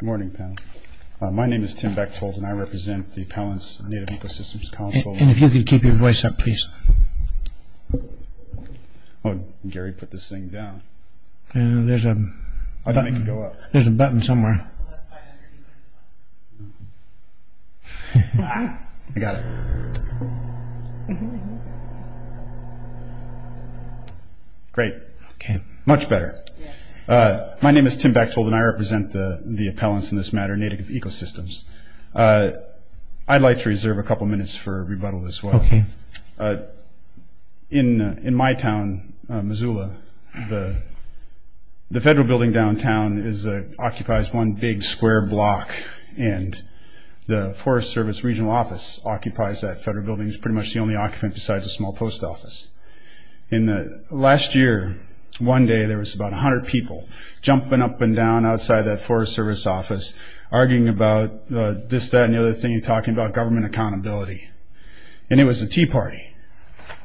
Good morning. My name is Tim Bechtold and I represent the Appellant's Native Ecosystems Council. And if you could keep your voice up, please. Oh, Gary put this thing down. There's a button somewhere. I got it. Great. Much better. My name is Tim Bechtold and I represent the Appellants in this matter, Native Ecosystems. I'd like to reserve a couple minutes for rebuttal as well. In my town, Missoula, the federal building downtown occupies one big square block and the Forest Service Regional Office occupies that federal building. It's pretty much the only occupant besides a small post office. Last year, one day, there was about 100 people jumping up and down outside that Forest Service office arguing about this, that, and the other thing, talking about government accountability. And it was a tea party.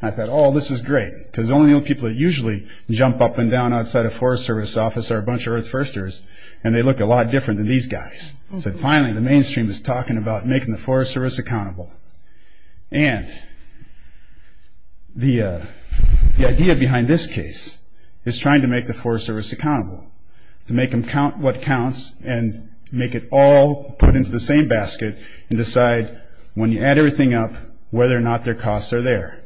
I thought, oh, this is great, because the only people that usually jump up and down outside a Forest Service office are a bunch of Earth Firsters, and they look a lot different than these guys. So finally, the mainstream is talking about making the Forest Service accountable. And the idea behind this case is trying to make the Forest Service accountable, to make them count what counts and make it all put into the same basket and decide when you add everything up whether or not their costs are there.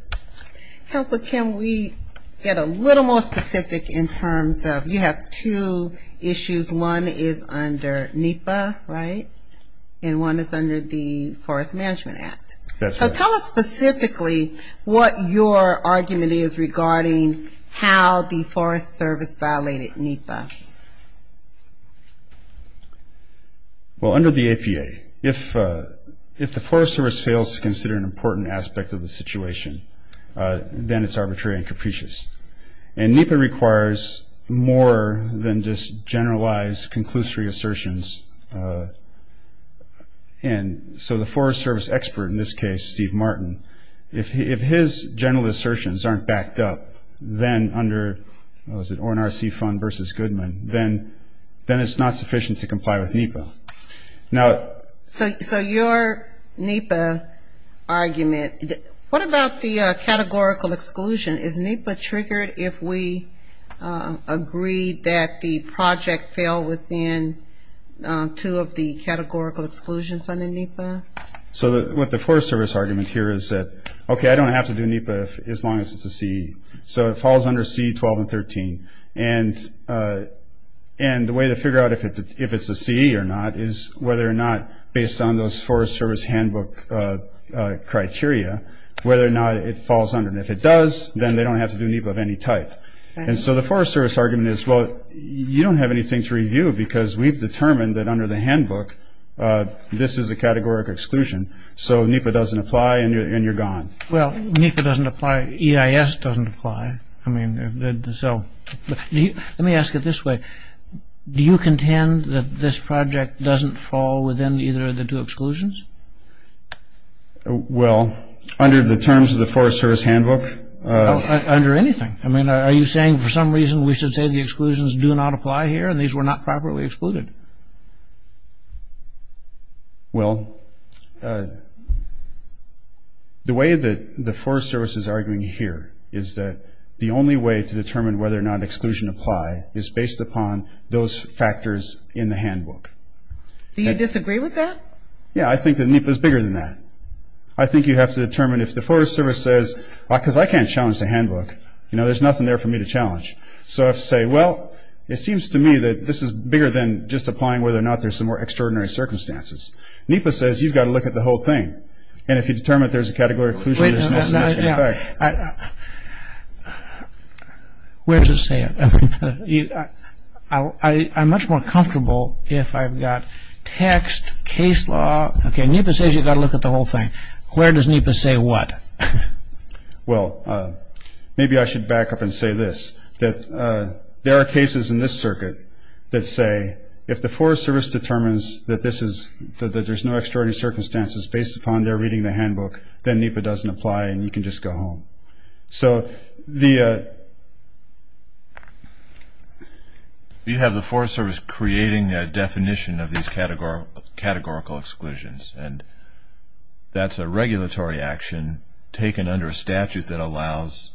Counselor, can we get a little more specific in terms of you have two issues. One is under NEPA, right? And one is under the Forest Management Act. So tell us specifically what your argument is regarding how the Forest Service violated NEPA. Well, under the APA, if the Forest Service fails to consider an important aspect of the situation, then it's arbitrary and capricious. And NEPA requires more than just generalized conclusory assertions. And so the Forest Service expert in this case, Steve Martin, if his general assertions aren't backed up, then under, what was it, ORNRC fund versus Goodman, then it's not sufficient to comply with NEPA. So your NEPA argument, what about the categorical exclusion? Is NEPA triggered if we agree that the project fell within two of the categorical exclusions under NEPA? So what the Forest Service argument here is that, okay, I don't have to do NEPA as long as it's a CE. So it falls under CE 12 and 13. And the way to figure out if it's a CE or not is whether or not, based on those Forest Service handbook criteria, whether or not it falls under. And if it does, then they don't have to do NEPA of any type. And so the Forest Service argument is, well, you don't have anything to review because we've determined that under the handbook this is a categorical exclusion. So NEPA doesn't apply and you're gone. Well, NEPA doesn't apply, EIS doesn't apply. I mean, so let me ask it this way. Do you contend that this project doesn't fall within either of the two exclusions? Well, under the terms of the Forest Service handbook. Under anything. I mean, are you saying for some reason we should say the exclusions do not apply here and these were not properly excluded? Well, the way that the Forest Service is arguing here is that the only way to determine whether or not exclusion apply is based upon those factors in the handbook. Do you disagree with that? Yeah, I think that NEPA is bigger than that. I think you have to determine if the Forest Service says, because I can't challenge the handbook, you know, there's nothing there for me to challenge. So I have to say, well, it seems to me that this is bigger than just the handbook. It's just applying whether or not there's some more extraordinary circumstances. NEPA says you've got to look at the whole thing. And if you determine there's a category of exclusion, there's no significant effect. Where does it say it? I'm much more comfortable if I've got text, case law. Okay, NEPA says you've got to look at the whole thing. Where does NEPA say what? Well, maybe I should back up and say this, that there are cases in this circuit that say if the Forest Service determines that there's no extraordinary circumstances based upon their reading the handbook, then NEPA doesn't apply and you can just go home. So you have the Forest Service creating a definition of these categorical exclusions, and that's a regulatory action taken under a statute that allows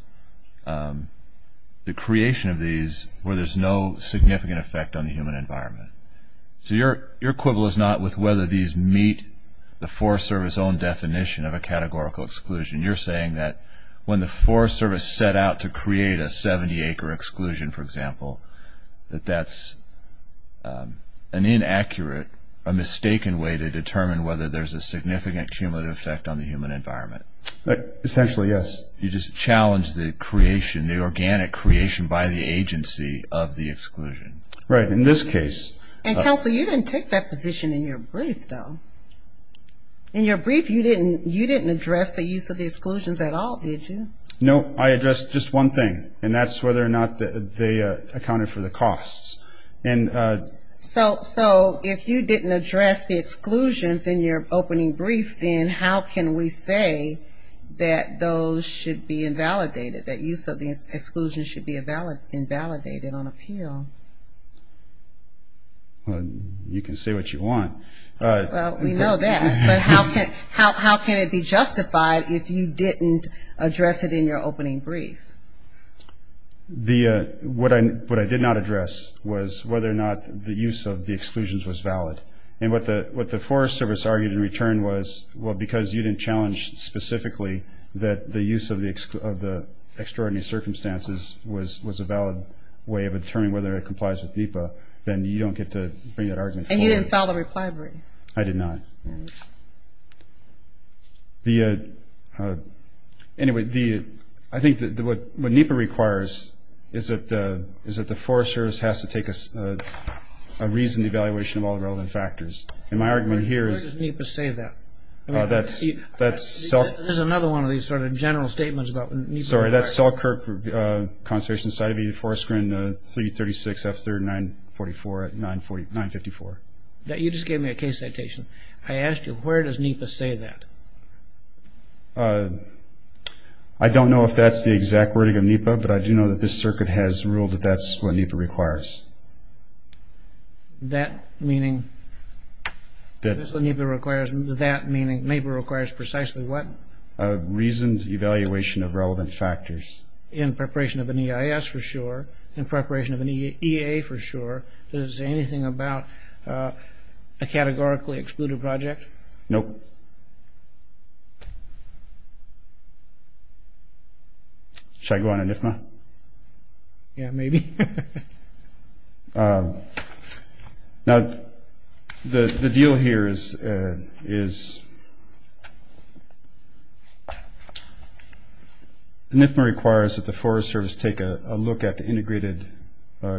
the creation of these where there's no significant effect on the human environment. So your quibble is not with whether these meet the Forest Service own definition of a categorical exclusion. You're saying that when the Forest Service set out to create a 70-acre exclusion, for example, that that's an inaccurate, a mistaken way to determine whether there's a significant cumulative effect on the human environment. Essentially, yes. You just challenged the creation, the organic creation by the agency of the exclusion. Right, in this case. And, Counsel, you didn't take that position in your brief, though. In your brief, you didn't address the use of the exclusions at all, did you? No, I addressed just one thing, and that's whether or not they accounted for the costs. So if you didn't address the exclusions in your opening brief, then how can we say that those should be invalidated, that use of the exclusion should be invalidated on appeal? Well, you can say what you want. Well, we know that. But how can it be justified if you didn't address it in your opening brief? What I did not address was whether or not the use of the exclusions was valid. And what the Forest Service argued in return was, well, because you didn't challenge specifically that the use of the extraordinary circumstances was a valid way of determining whether it complies with NEPA, then you don't get to bring that argument forward. And you didn't file the reply brief. I did not. Anyway, I think what NEPA requires is that the Forest Service has to take a reasoned evaluation of all the relevant factors. And my argument here is... Where does NEPA say that? There's another one of these sort of general statements about what NEPA requires. I'm sorry, that's Selkirk Conservation Society, Forest Grin 336F3944 at 954. You just gave me a case citation. I asked you, where does NEPA say that? I don't know if that's the exact wording of NEPA, but I do know that this circuit has ruled that that's what NEPA requires. That meaning? That's what NEPA requires. That meaning NEPA requires precisely what? A reasoned evaluation of relevant factors. In preparation of an EIS for sure. In preparation of an EA for sure. Does it say anything about a categorically excluded project? Nope. Should I go on an IFMA? Yeah, maybe. Now, the deal here is IFMA requires that the Forest Service take a look at the integrated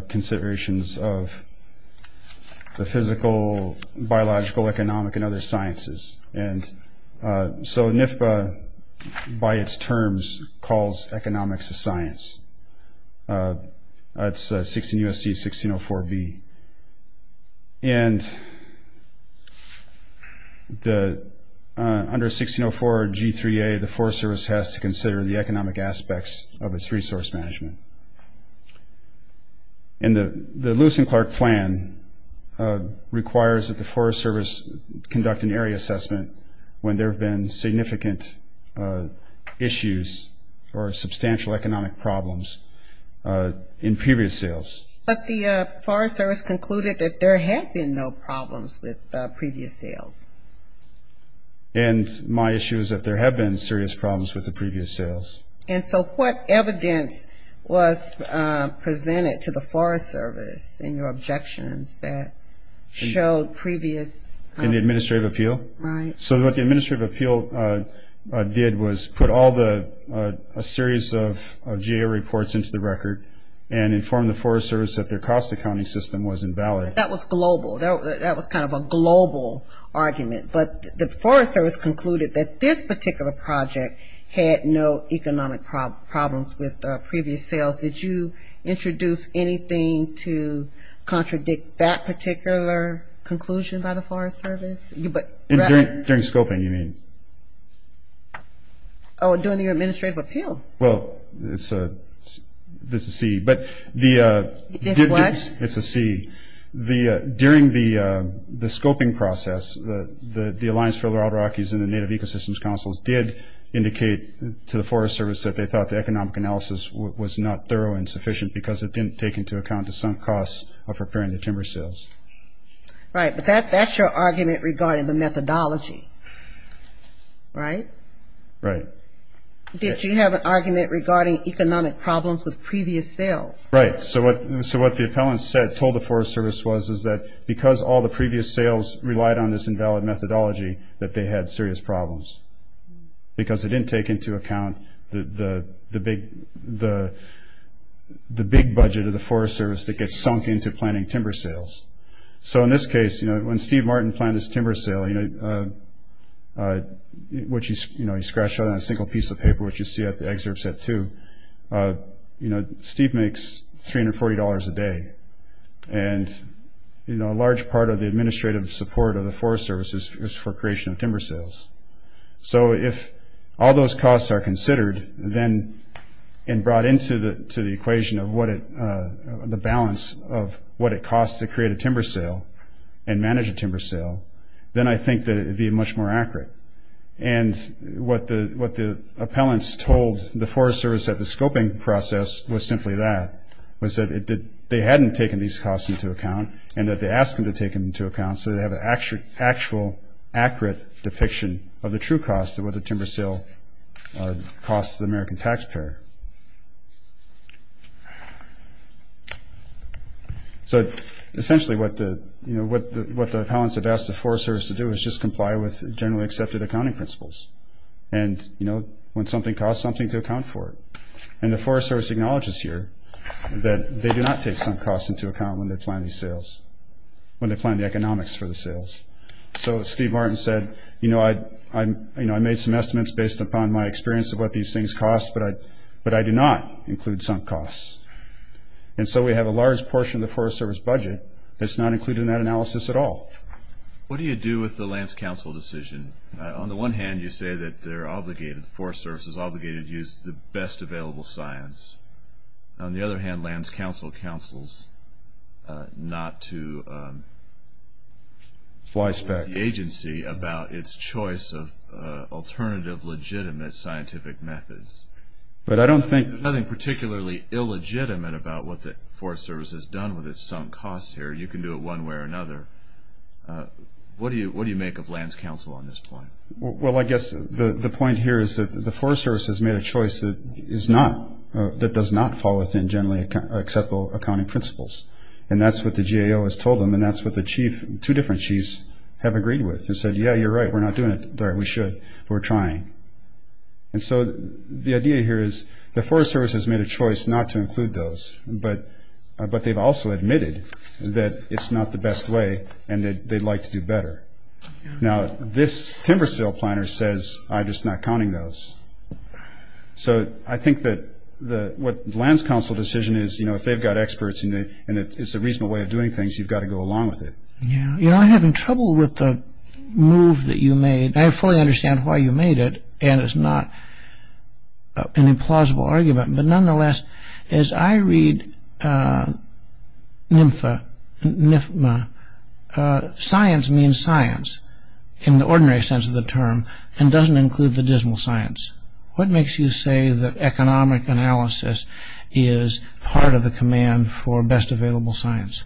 considerations of the physical, biological, economic, and other sciences. And so NEPA, by its terms, calls economics a science. It's 16 U.S.C. 1604B. And under 1604 G3A, the Forest Service has to consider the economic aspects of its resource management. And the Lewis and Clark Plan requires that the Forest Service conduct an area assessment when there have been significant issues or substantial economic problems in previous sales. But the Forest Service concluded that there had been no problems with previous sales. And my issue is that there have been serious problems with the previous sales. And so what evidence was presented to the Forest Service in your objections that showed previous? In the Administrative Appeal? Right. So what the Administrative Appeal did was put all the series of GA reports into the record and informed the Forest Service that their cost accounting system was invalid. That was global. That was kind of a global argument. But the Forest Service concluded that this particular project had no economic problems with previous sales. Did you introduce anything to contradict that particular conclusion by the Forest Service? During scoping, you mean? Oh, during the Administrative Appeal. Well, it's a C. It's what? It's a C. During the scoping process, the Alliance for Otter Rockies and the Native Ecosystems Councils did indicate to the Forest Service that they thought the economic analysis was not thorough and sufficient because it didn't take into account the sunk costs of repairing the timber sales. Right, but that's your argument regarding the methodology, right? Right. Did you have an argument regarding economic problems with previous sales? Right. So what the appellants told the Forest Service was is that because all the previous sales relied on this invalid methodology, that they had serious problems because they didn't take into account the big budget of the Forest Service that gets sunk into planning timber sales. So in this case, when Steve Martin planned this timber sale, which he scratched out on a single piece of paper, which you see at the excerpt set 2, Steve makes $340 a day, and a large part of the administrative support of the Forest Service is for creation of timber sales. So if all those costs are considered and brought into the equation of the balance of what it costs to create a timber sale and manage a timber sale, then I think that it would be much more accurate. And what the appellants told the Forest Service at the scoping process was simply that, was that they hadn't taken these costs into account and that they asked them to take them into account so they have an actual, accurate depiction of the true cost of what the timber sale costs the American taxpayer. So essentially what the appellants have asked the Forest Service to do is just comply with generally accepted accounting principles. And, you know, when something costs something, to account for it. And the Forest Service acknowledges here that they do not take some costs into account when they plan these sales, when they plan the economics for the sales. So Steve Martin said, you know, I made some estimates based upon my experience of what these things cost, but I do not include some costs. And so we have a large portion of the Forest Service budget that's not included in that analysis at all. What do you do with the Lands Council decision? On the one hand, you say that they're obligated, the Forest Service is obligated to use the best available science. On the other hand, Lands Council counsels not to fly spec the agency about its choice of alternative legitimate scientific methods. But I don't think... There's nothing particularly illegitimate about what the Forest Service has done with its sunk costs here. You can do it one way or another. What do you make of Lands Council on this point? Well, I guess the point here is that the Forest Service has made a choice that is not, that does not fall within generally acceptable accounting principles. And that's what the GAO has told them, and that's what the chief, two different chiefs have agreed with. They said, yeah, you're right, we're not doing it. We should, but we're trying. And so the idea here is the Forest Service has made a choice not to include those, but they've also admitted that it's not the best way and that they'd like to do better. Now, this timber sale planner says, I'm just not counting those. So I think that what the Lands Council decision is, you know, if they've got experts and it's a reasonable way of doing things, you've got to go along with it. Yeah. You know, I'm having trouble with the move that you made. I fully understand why you made it, and it's not an implausible argument. But nonetheless, as I read NIFMA, science means science in the ordinary sense of the term, and doesn't include the dismal science. What makes you say that economic analysis is part of the command for best available science?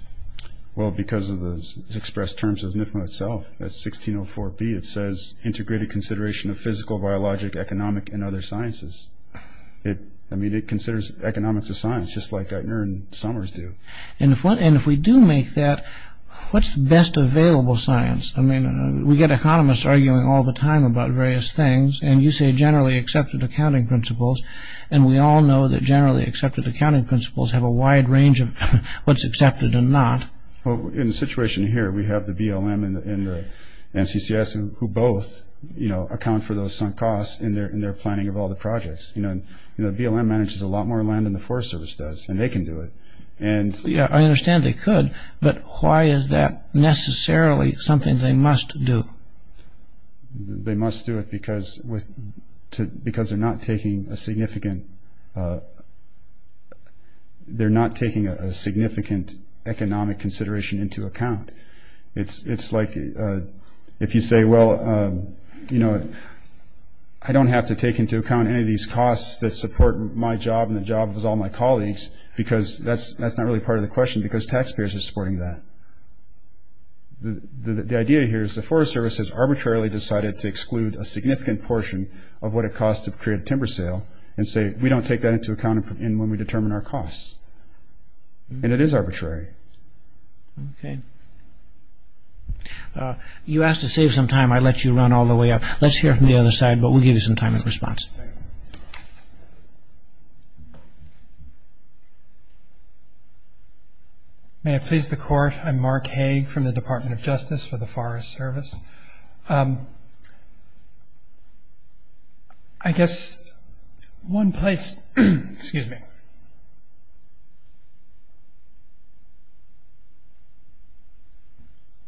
Well, because of the expressed terms of NIFMA itself, that's 1604B. It says, integrated consideration of physical, biologic, economic, and other sciences. I mean, it considers economics as science, just like Geithner and Summers do. And if we do make that, what's best available science? I mean, we get economists arguing all the time about various things, and you say generally accepted accounting principles, and we all know that generally accepted accounting principles have a wide range of what's accepted and not. Well, in the situation here, we have the BLM and the NCCS, who both account for those sunk costs in their planning of all the projects. BLM manages a lot more land than the Forest Service does, and they can do it. Yeah, I understand they could, but why is that necessarily something they must do? They must do it because they're not taking a significant economic consideration into account. It's like if you say, well, you know, I don't have to take into account any of these costs that support my job and the jobs of all my colleagues, because that's not really part of the question because taxpayers are supporting that. The idea here is the Forest Service has arbitrarily decided to exclude a significant portion of what it costs to create a timber sale and say, we don't take that into account when we determine our costs. And it is arbitrary. Okay. You asked to save some time. I let you run all the way up. Let's hear from the other side, but we'll give you some time in response. May I please the Court? I'm Mark Hague from the Department of Justice for the Forest Service. I guess one place ‑‑ excuse me.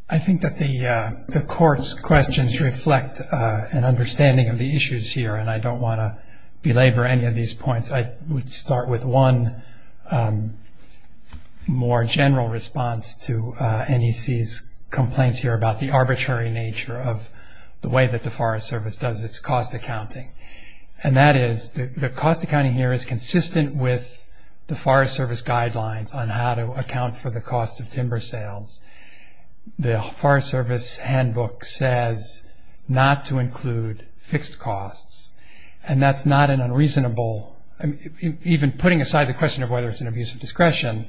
I think that the Court's questions reflect an understanding of the issues here, and I don't want to belabor any of these points. I would start with one more general response to NEC's complaints here about the arbitrary nature of the way that the Forest Service does its cost accounting, and that is the cost accounting here is consistent with the Forest Service guidelines on how to account for the cost of timber sales. The Forest Service handbook says not to include fixed costs, and that's not an unreasonable, even putting aside the question of whether it's an abuse of discretion,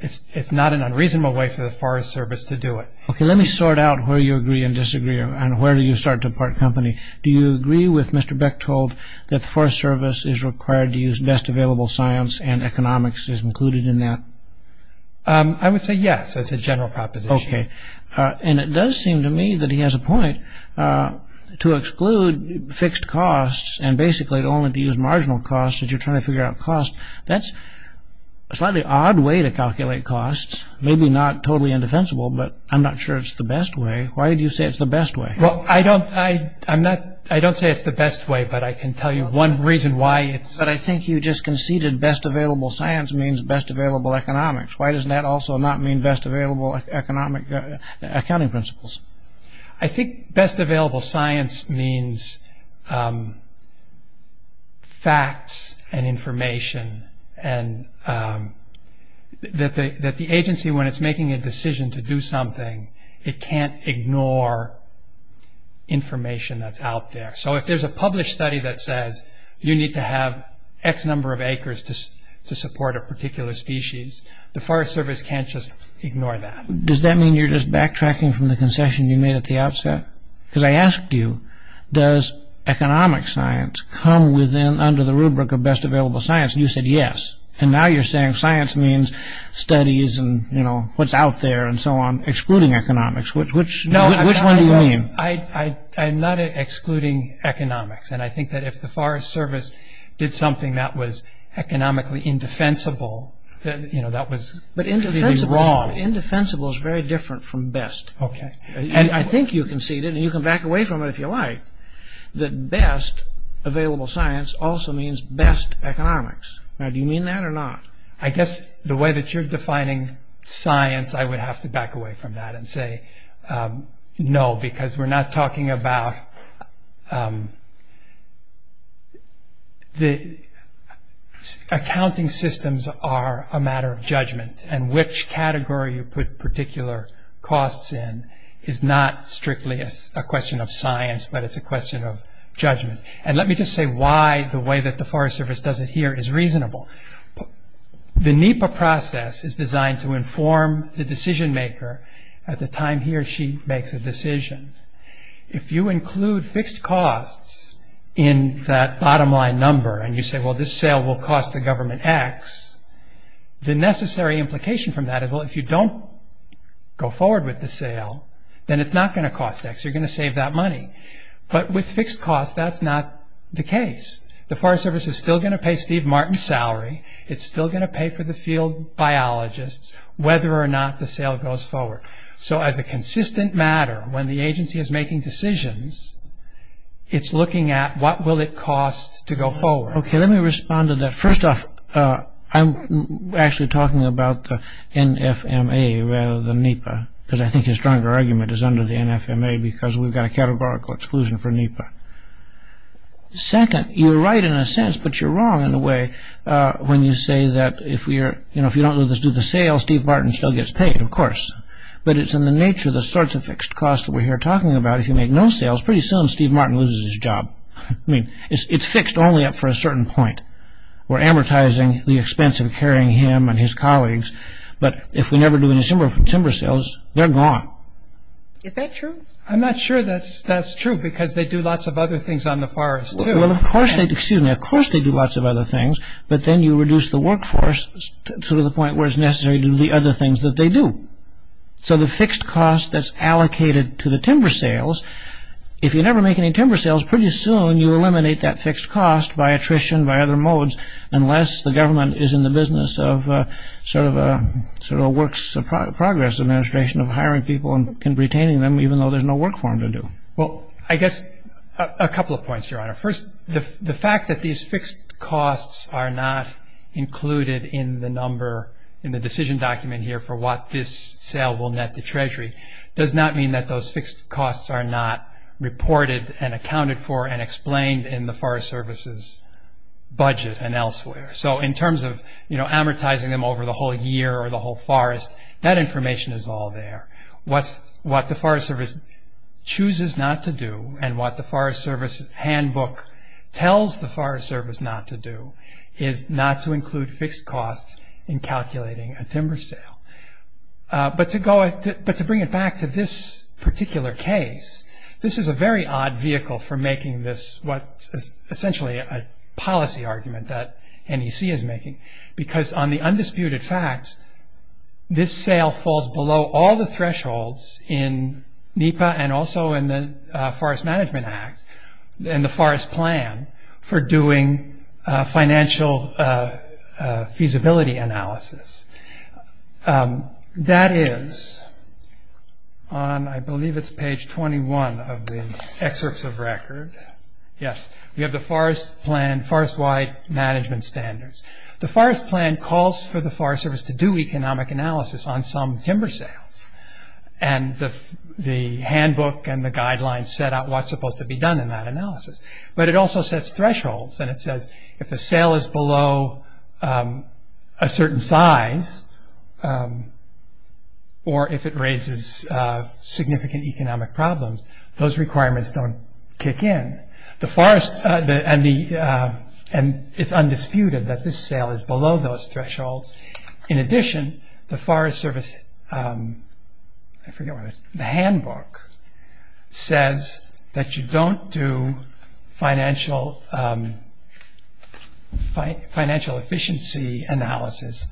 it's not an unreasonable way for the Forest Service to do it. Okay, let me sort out where you agree and disagree, and where do you start to part company. Do you agree with Mr. Bechtold that the Forest Service is required to use best available science and economics is included in that? I would say yes as a general proposition. Okay. And it does seem to me that he has a point to exclude fixed costs and basically only to use marginal costs as you're trying to figure out costs. That's a slightly odd way to calculate costs, maybe not totally indefensible, but I'm not sure it's the best way. Why do you say it's the best way? Well, I don't say it's the best way, but I can tell you one reason why. But I think you just conceded best available science means best available economics. Why does that also not mean best available accounting principles? I think best available science means facts and information and that the agency, when it's making a decision to do something, it can't ignore information that's out there. So if there's a published study that says you need to have X number of acres to support a particular species, the Forest Service can't just ignore that. Does that mean you're just backtracking from the concession you made at the outset? Because I asked you, does economic science come under the rubric of best available science? And you said yes. And now you're saying science means studies and what's out there and so on, excluding economics. Which one do you mean? I'm not excluding economics, and I think that if the Forest Service did something that was economically indefensible, that would be wrong. But indefensible is very different from best. And I think you conceded, and you can back away from it if you like, that best available science also means best economics. Now, do you mean that or not? I guess the way that you're defining science, I would have to back away from that and say no, because we're not talking about... Accounting systems are a matter of judgment, and which category you put particular costs in is not strictly a question of science, but it's a question of judgment. And let me just say why the way that the Forest Service does it here is reasonable. The NEPA process is designed to inform the decision maker at the time he or she makes a decision. If you include fixed costs in that bottom line number, and you say, well, this sale will cost the government X, the necessary implication from that is, well, if you don't go forward with the sale, then it's not going to cost X, you're going to save that money. But with fixed costs, that's not the case. The Forest Service is still going to pay Steve Martin's salary, it's still going to pay for the field biologists, whether or not the sale goes forward. So as a consistent matter, when the agency is making decisions, it's looking at what will it cost to go forward. Okay, let me respond to that. First off, I'm actually talking about the NFMA rather than NEPA, because I think his stronger argument is under the NFMA, because we've got a categorical exclusion for NEPA. Second, you're right in a sense, but you're wrong in a way, when you say that if you don't do the sale, Steve Martin still gets paid, of course. But it's in the nature of the sorts of fixed costs that we're here talking about. If you make no sales, pretty soon Steve Martin loses his job. I mean, it's fixed only up for a certain point. We're amortizing the expense of carrying him and his colleagues, but if we never do any timber sales, they're gone. Is that true? I'm not sure that's true, because they do lots of other things on the forest too. Well, of course they do lots of other things, but then you reduce the workforce to the point where it's necessary to do the other things that they do. So the fixed cost that's allocated to the timber sales, if you never make any timber sales, pretty soon you eliminate that fixed cost by attrition, by other modes, unless the government is in the business of sort of a works of progress administration of hiring people and retaining them, even though there's no work for them to do. Well, I guess a couple of points, Your Honor. First, the fact that these fixed costs are not included in the number, in the decision document here for what this sale will net the Treasury, does not mean that those fixed costs are not reported and accounted for and explained in the Forest Service's budget and elsewhere. So in terms of amortizing them over the whole year or the whole forest, that information is all there. What the Forest Service chooses not to do, and what the Forest Service handbook tells the Forest Service not to do, is not to include fixed costs in calculating a timber sale. But to bring it back to this particular case, this is a very odd vehicle for making this, what is essentially a policy argument that NEC is making, because on the undisputed facts, this sale falls below all the thresholds in NEPA and also in the Forest Management Act and the Forest Plan for doing financial feasibility analysis. That is on, I believe it's page 21 of the excerpts of record. Yes, we have the Forest Wide Management Standards. The Forest Plan calls for the Forest Service to do economic analysis on some timber sales, and the handbook and the guidelines set out what's supposed to be done in that analysis. But it also sets thresholds, and it says if the sale is below a certain size, or if it raises significant economic problems, those requirements don't kick in. It's undisputed that this sale is below those thresholds. In addition, the Forest Service, I forget what it is, the handbook says that you don't do financial efficiency analysis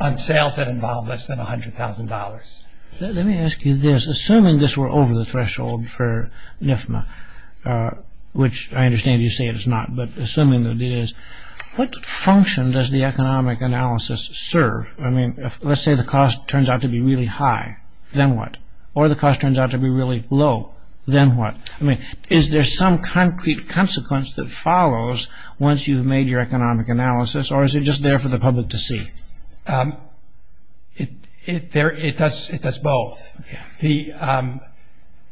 on sales that involve less than $100,000. Let me ask you this. Assuming this were over the threshold for NIFMA, which I understand you say it's not, but assuming that it is, what function does the economic analysis serve? I mean, let's say the cost turns out to be really high. Then what? Or the cost turns out to be really low. Then what? I mean, is there some concrete consequence that follows once you've made your economic analysis, or is it just there for the public to see? It does both.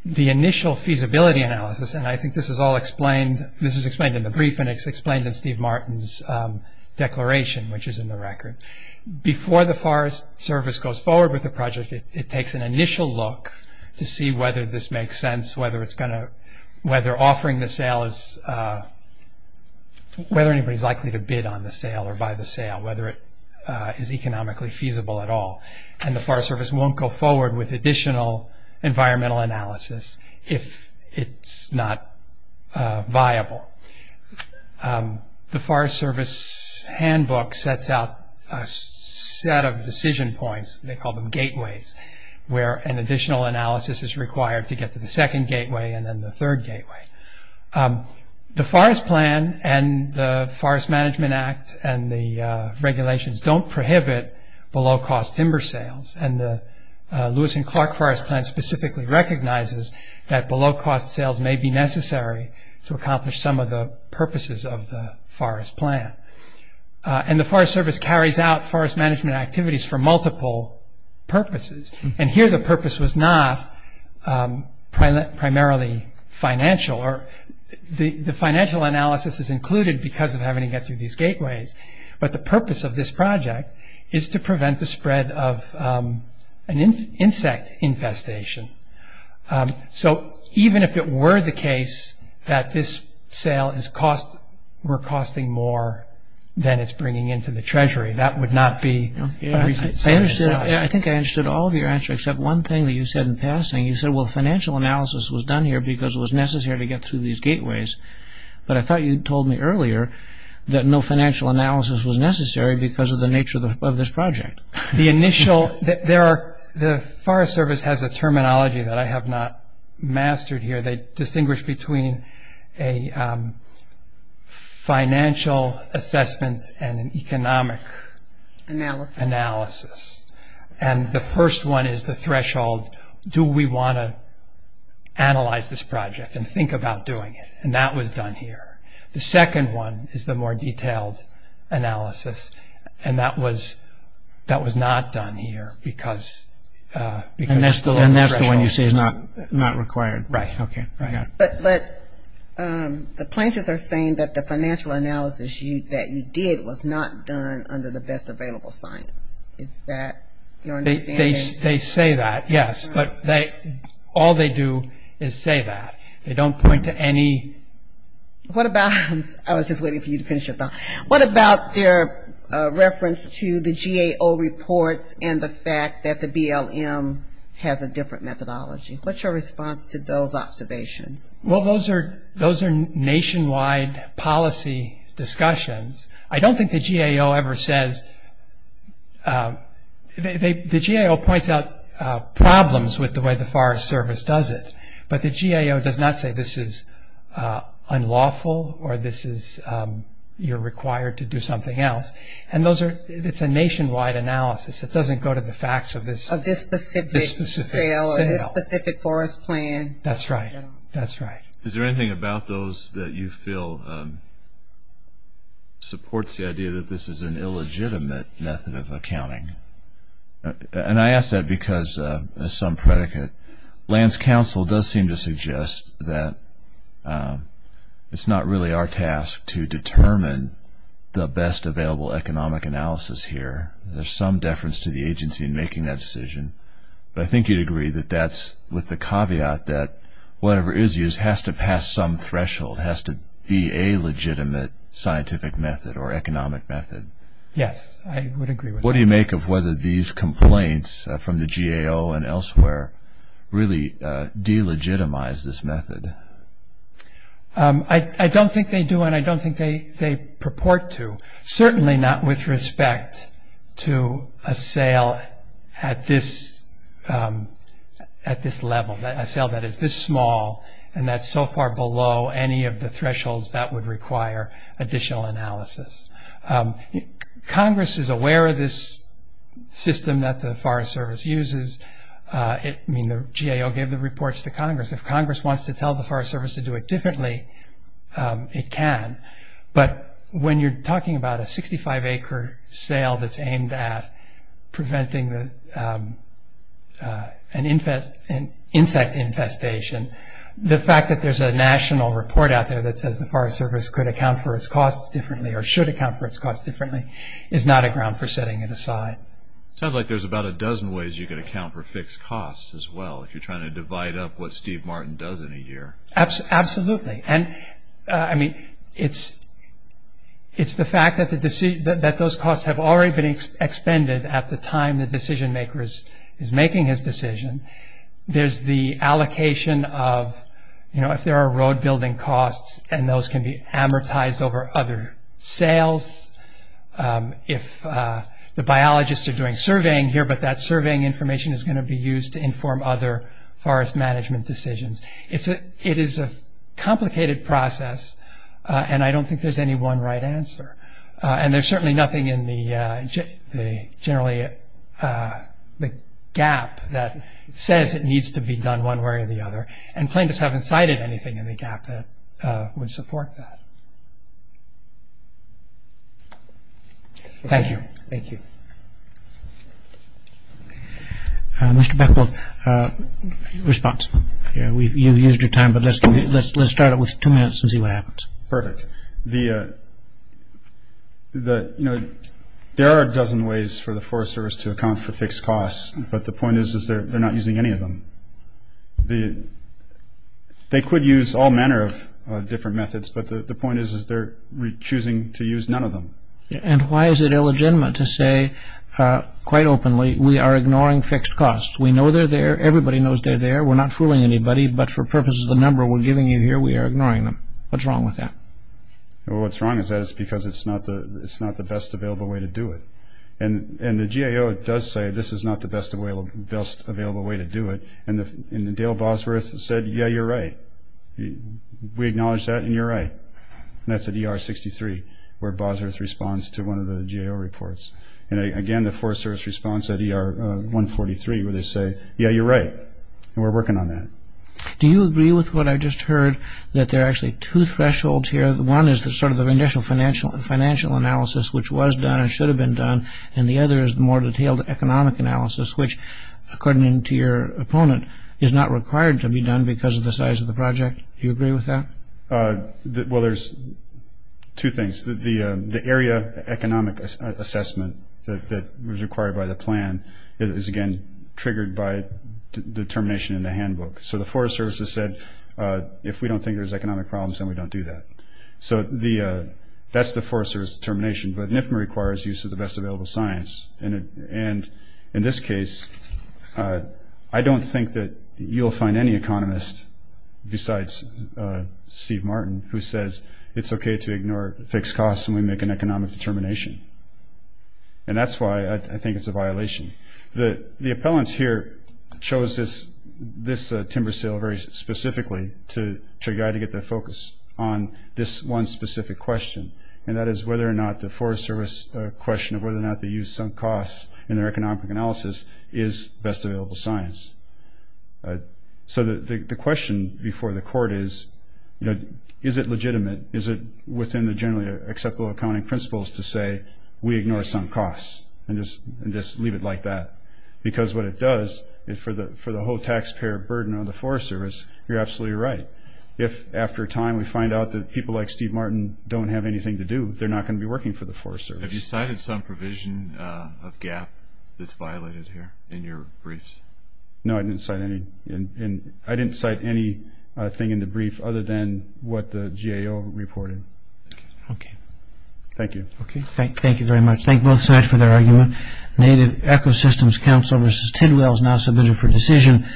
The initial feasibility analysis, and I think this is all explained, this is explained in the brief and it's explained in Steve Martin's declaration, which is in the record. Before the Forest Service goes forward with the project, it takes an initial look to see whether this makes sense, whether offering the sale is, whether anybody's likely to bid on the sale or buy the sale, whether it is economically feasible at all. And the Forest Service won't go forward with additional environmental analysis if it's not viable. The Forest Service handbook sets out a set of decision points, they call them gateways, where an additional analysis is required to get to the second gateway and then the third gateway. The Forest Plan and the Forest Management Act and the regulations don't prohibit below-cost timber sales, and the Lewis and Clark Forest Plan specifically recognizes that below-cost sales may be necessary to accomplish some of the purposes of the Forest Plan. And the Forest Service carries out forest management activities for multiple purposes, and here the purpose was not primarily financial. The financial analysis is included because of having to get through these gateways, but the purpose of this project is to prevent the spread of an insect infestation. So even if it were the case that this sale is cost, we're costing more than it's bringing into the treasury, that would not be. I think I understood all of your answers except one thing that you said in passing. You said, well, financial analysis was done here because it was necessary to get through these gateways, but I thought you told me earlier that no financial analysis was necessary because of the nature of this project. The Forest Service has a terminology that I have not mastered here. They distinguish between a financial assessment and an economic analysis, and the first one is the threshold, do we want to analyze this project and think about doing it, and that was done here. The second one is the more detailed analysis, and that was not done here because. And that's the one you say is not required. Right, right. But the planters are saying that the financial analysis that you did was not done under the best available science. Is that your understanding? They say that, yes, but all they do is say that. They don't point to any. What about, I was just waiting for you to finish your thought, what about their reference to the GAO reports and the fact that the BLM has a different methodology? What's your response to those observations? Well, those are nationwide policy discussions. I don't think the GAO ever says, the GAO points out problems with the way the Forest Service does it, but the GAO does not say this is unlawful or you're required to do something else, and it's a nationwide analysis. It doesn't go to the facts of this specific sale or this specific forest plan. That's right, that's right. Is there anything about those that you feel supports the idea that this is an illegitimate method of accounting? And I ask that because, as some predicate, Lands Council does seem to suggest that it's not really our task to determine the best available economic analysis here. There's some deference to the agency in making that decision, but I think you'd agree that that's with the caveat that whatever is used has to pass some threshold, has to be a legitimate scientific method or economic method. Yes, I would agree with that. What do you make of whether these complaints from the GAO and elsewhere really delegitimize this method? I don't think they do, and I don't think they purport to, certainly not with respect to a sale at this level, a sale that is this small and that's so far below any of the thresholds that would require additional analysis. Congress is aware of this system that the Forest Service uses. The GAO gave the reports to Congress. If Congress wants to tell the Forest Service to do it differently, it can. But when you're talking about a 65-acre sale that's aimed at preventing an insect infestation, the fact that there's a national report out there that says the Forest Service could account for its costs differently or should account for its costs differently is not a ground for setting it aside. It sounds like there's about a dozen ways you could account for fixed costs as well, if you're trying to divide up what Steve Martin does in a year. Absolutely. It's the fact that those costs have already been expended at the time the decision maker is making his decision. There's the allocation of, you know, if there are road building costs and those can be amortized over other sales. If the biologists are doing surveying here, but that surveying information is going to be used to inform other forest management decisions. It is a complicated process and I don't think there's any one right answer. And there's certainly nothing in the generally the gap that says it needs to be done one way or the other and plaintiffs haven't cited anything in the gap that would support that. Thank you. Thank you. Mr. Beckwith, response. You've used your time, but let's start it with two minutes and see what happens. Perfect. You know, there are a dozen ways for the Forest Service to account for fixed costs, but the point is they're not using any of them. They could use all manner of different methods, but the point is they're choosing to use none of them. And why is it illegitimate to say quite openly we are ignoring fixed costs? We know they're there. Everybody knows they're there. We're not fooling anybody, but for purposes of the number we're giving you here, we are ignoring them. What's wrong with that? Well, what's wrong is that it's because it's not the best available way to do it. And the GAO does say this is not the best available way to do it, and Dale Bosworth said, yeah, you're right. We acknowledge that and you're right. And that's at ER 63 where Bosworth responds to one of the GAO reports. And, again, the Forest Service responds at ER 143 where they say, yeah, you're right, and we're working on that. Do you agree with what I just heard, that there are actually two thresholds here? One is sort of the initial financial analysis, which was done and should have been done, and the other is the more detailed economic analysis, which according to your opponent is not required to be done because of the size of the project. Do you agree with that? Well, there's two things. determination in the handbook. So the Forest Service has said if we don't think there's economic problems, then we don't do that. So that's the Forest Service determination, but NIFMA requires use of the best available science. And in this case, I don't think that you'll find any economist besides Steve Martin who says it's okay to ignore fixed costs when we make an economic determination. And that's why I think it's a violation. The appellants here chose this timber sale very specifically to try to get their focus on this one specific question, and that is whether or not the Forest Service question of whether or not they use sunk costs in their economic analysis is best available science. So the question before the court is, is it legitimate, is it within the generally acceptable accounting principles to say we ignore sunk costs and just leave it like that? Because what it does is for the whole taxpayer burden on the Forest Service, you're absolutely right. If after a time we find out that people like Steve Martin don't have anything to do, they're not going to be working for the Forest Service. Have you cited some provision of GAAP that's violated here in your briefs? No, I didn't cite anything in the brief other than what the GAO reported. Okay. Thank you. Thank you very much. Thank both sides for their argument. Native Ecosystems Council v. Tidwell is now submitted for decision.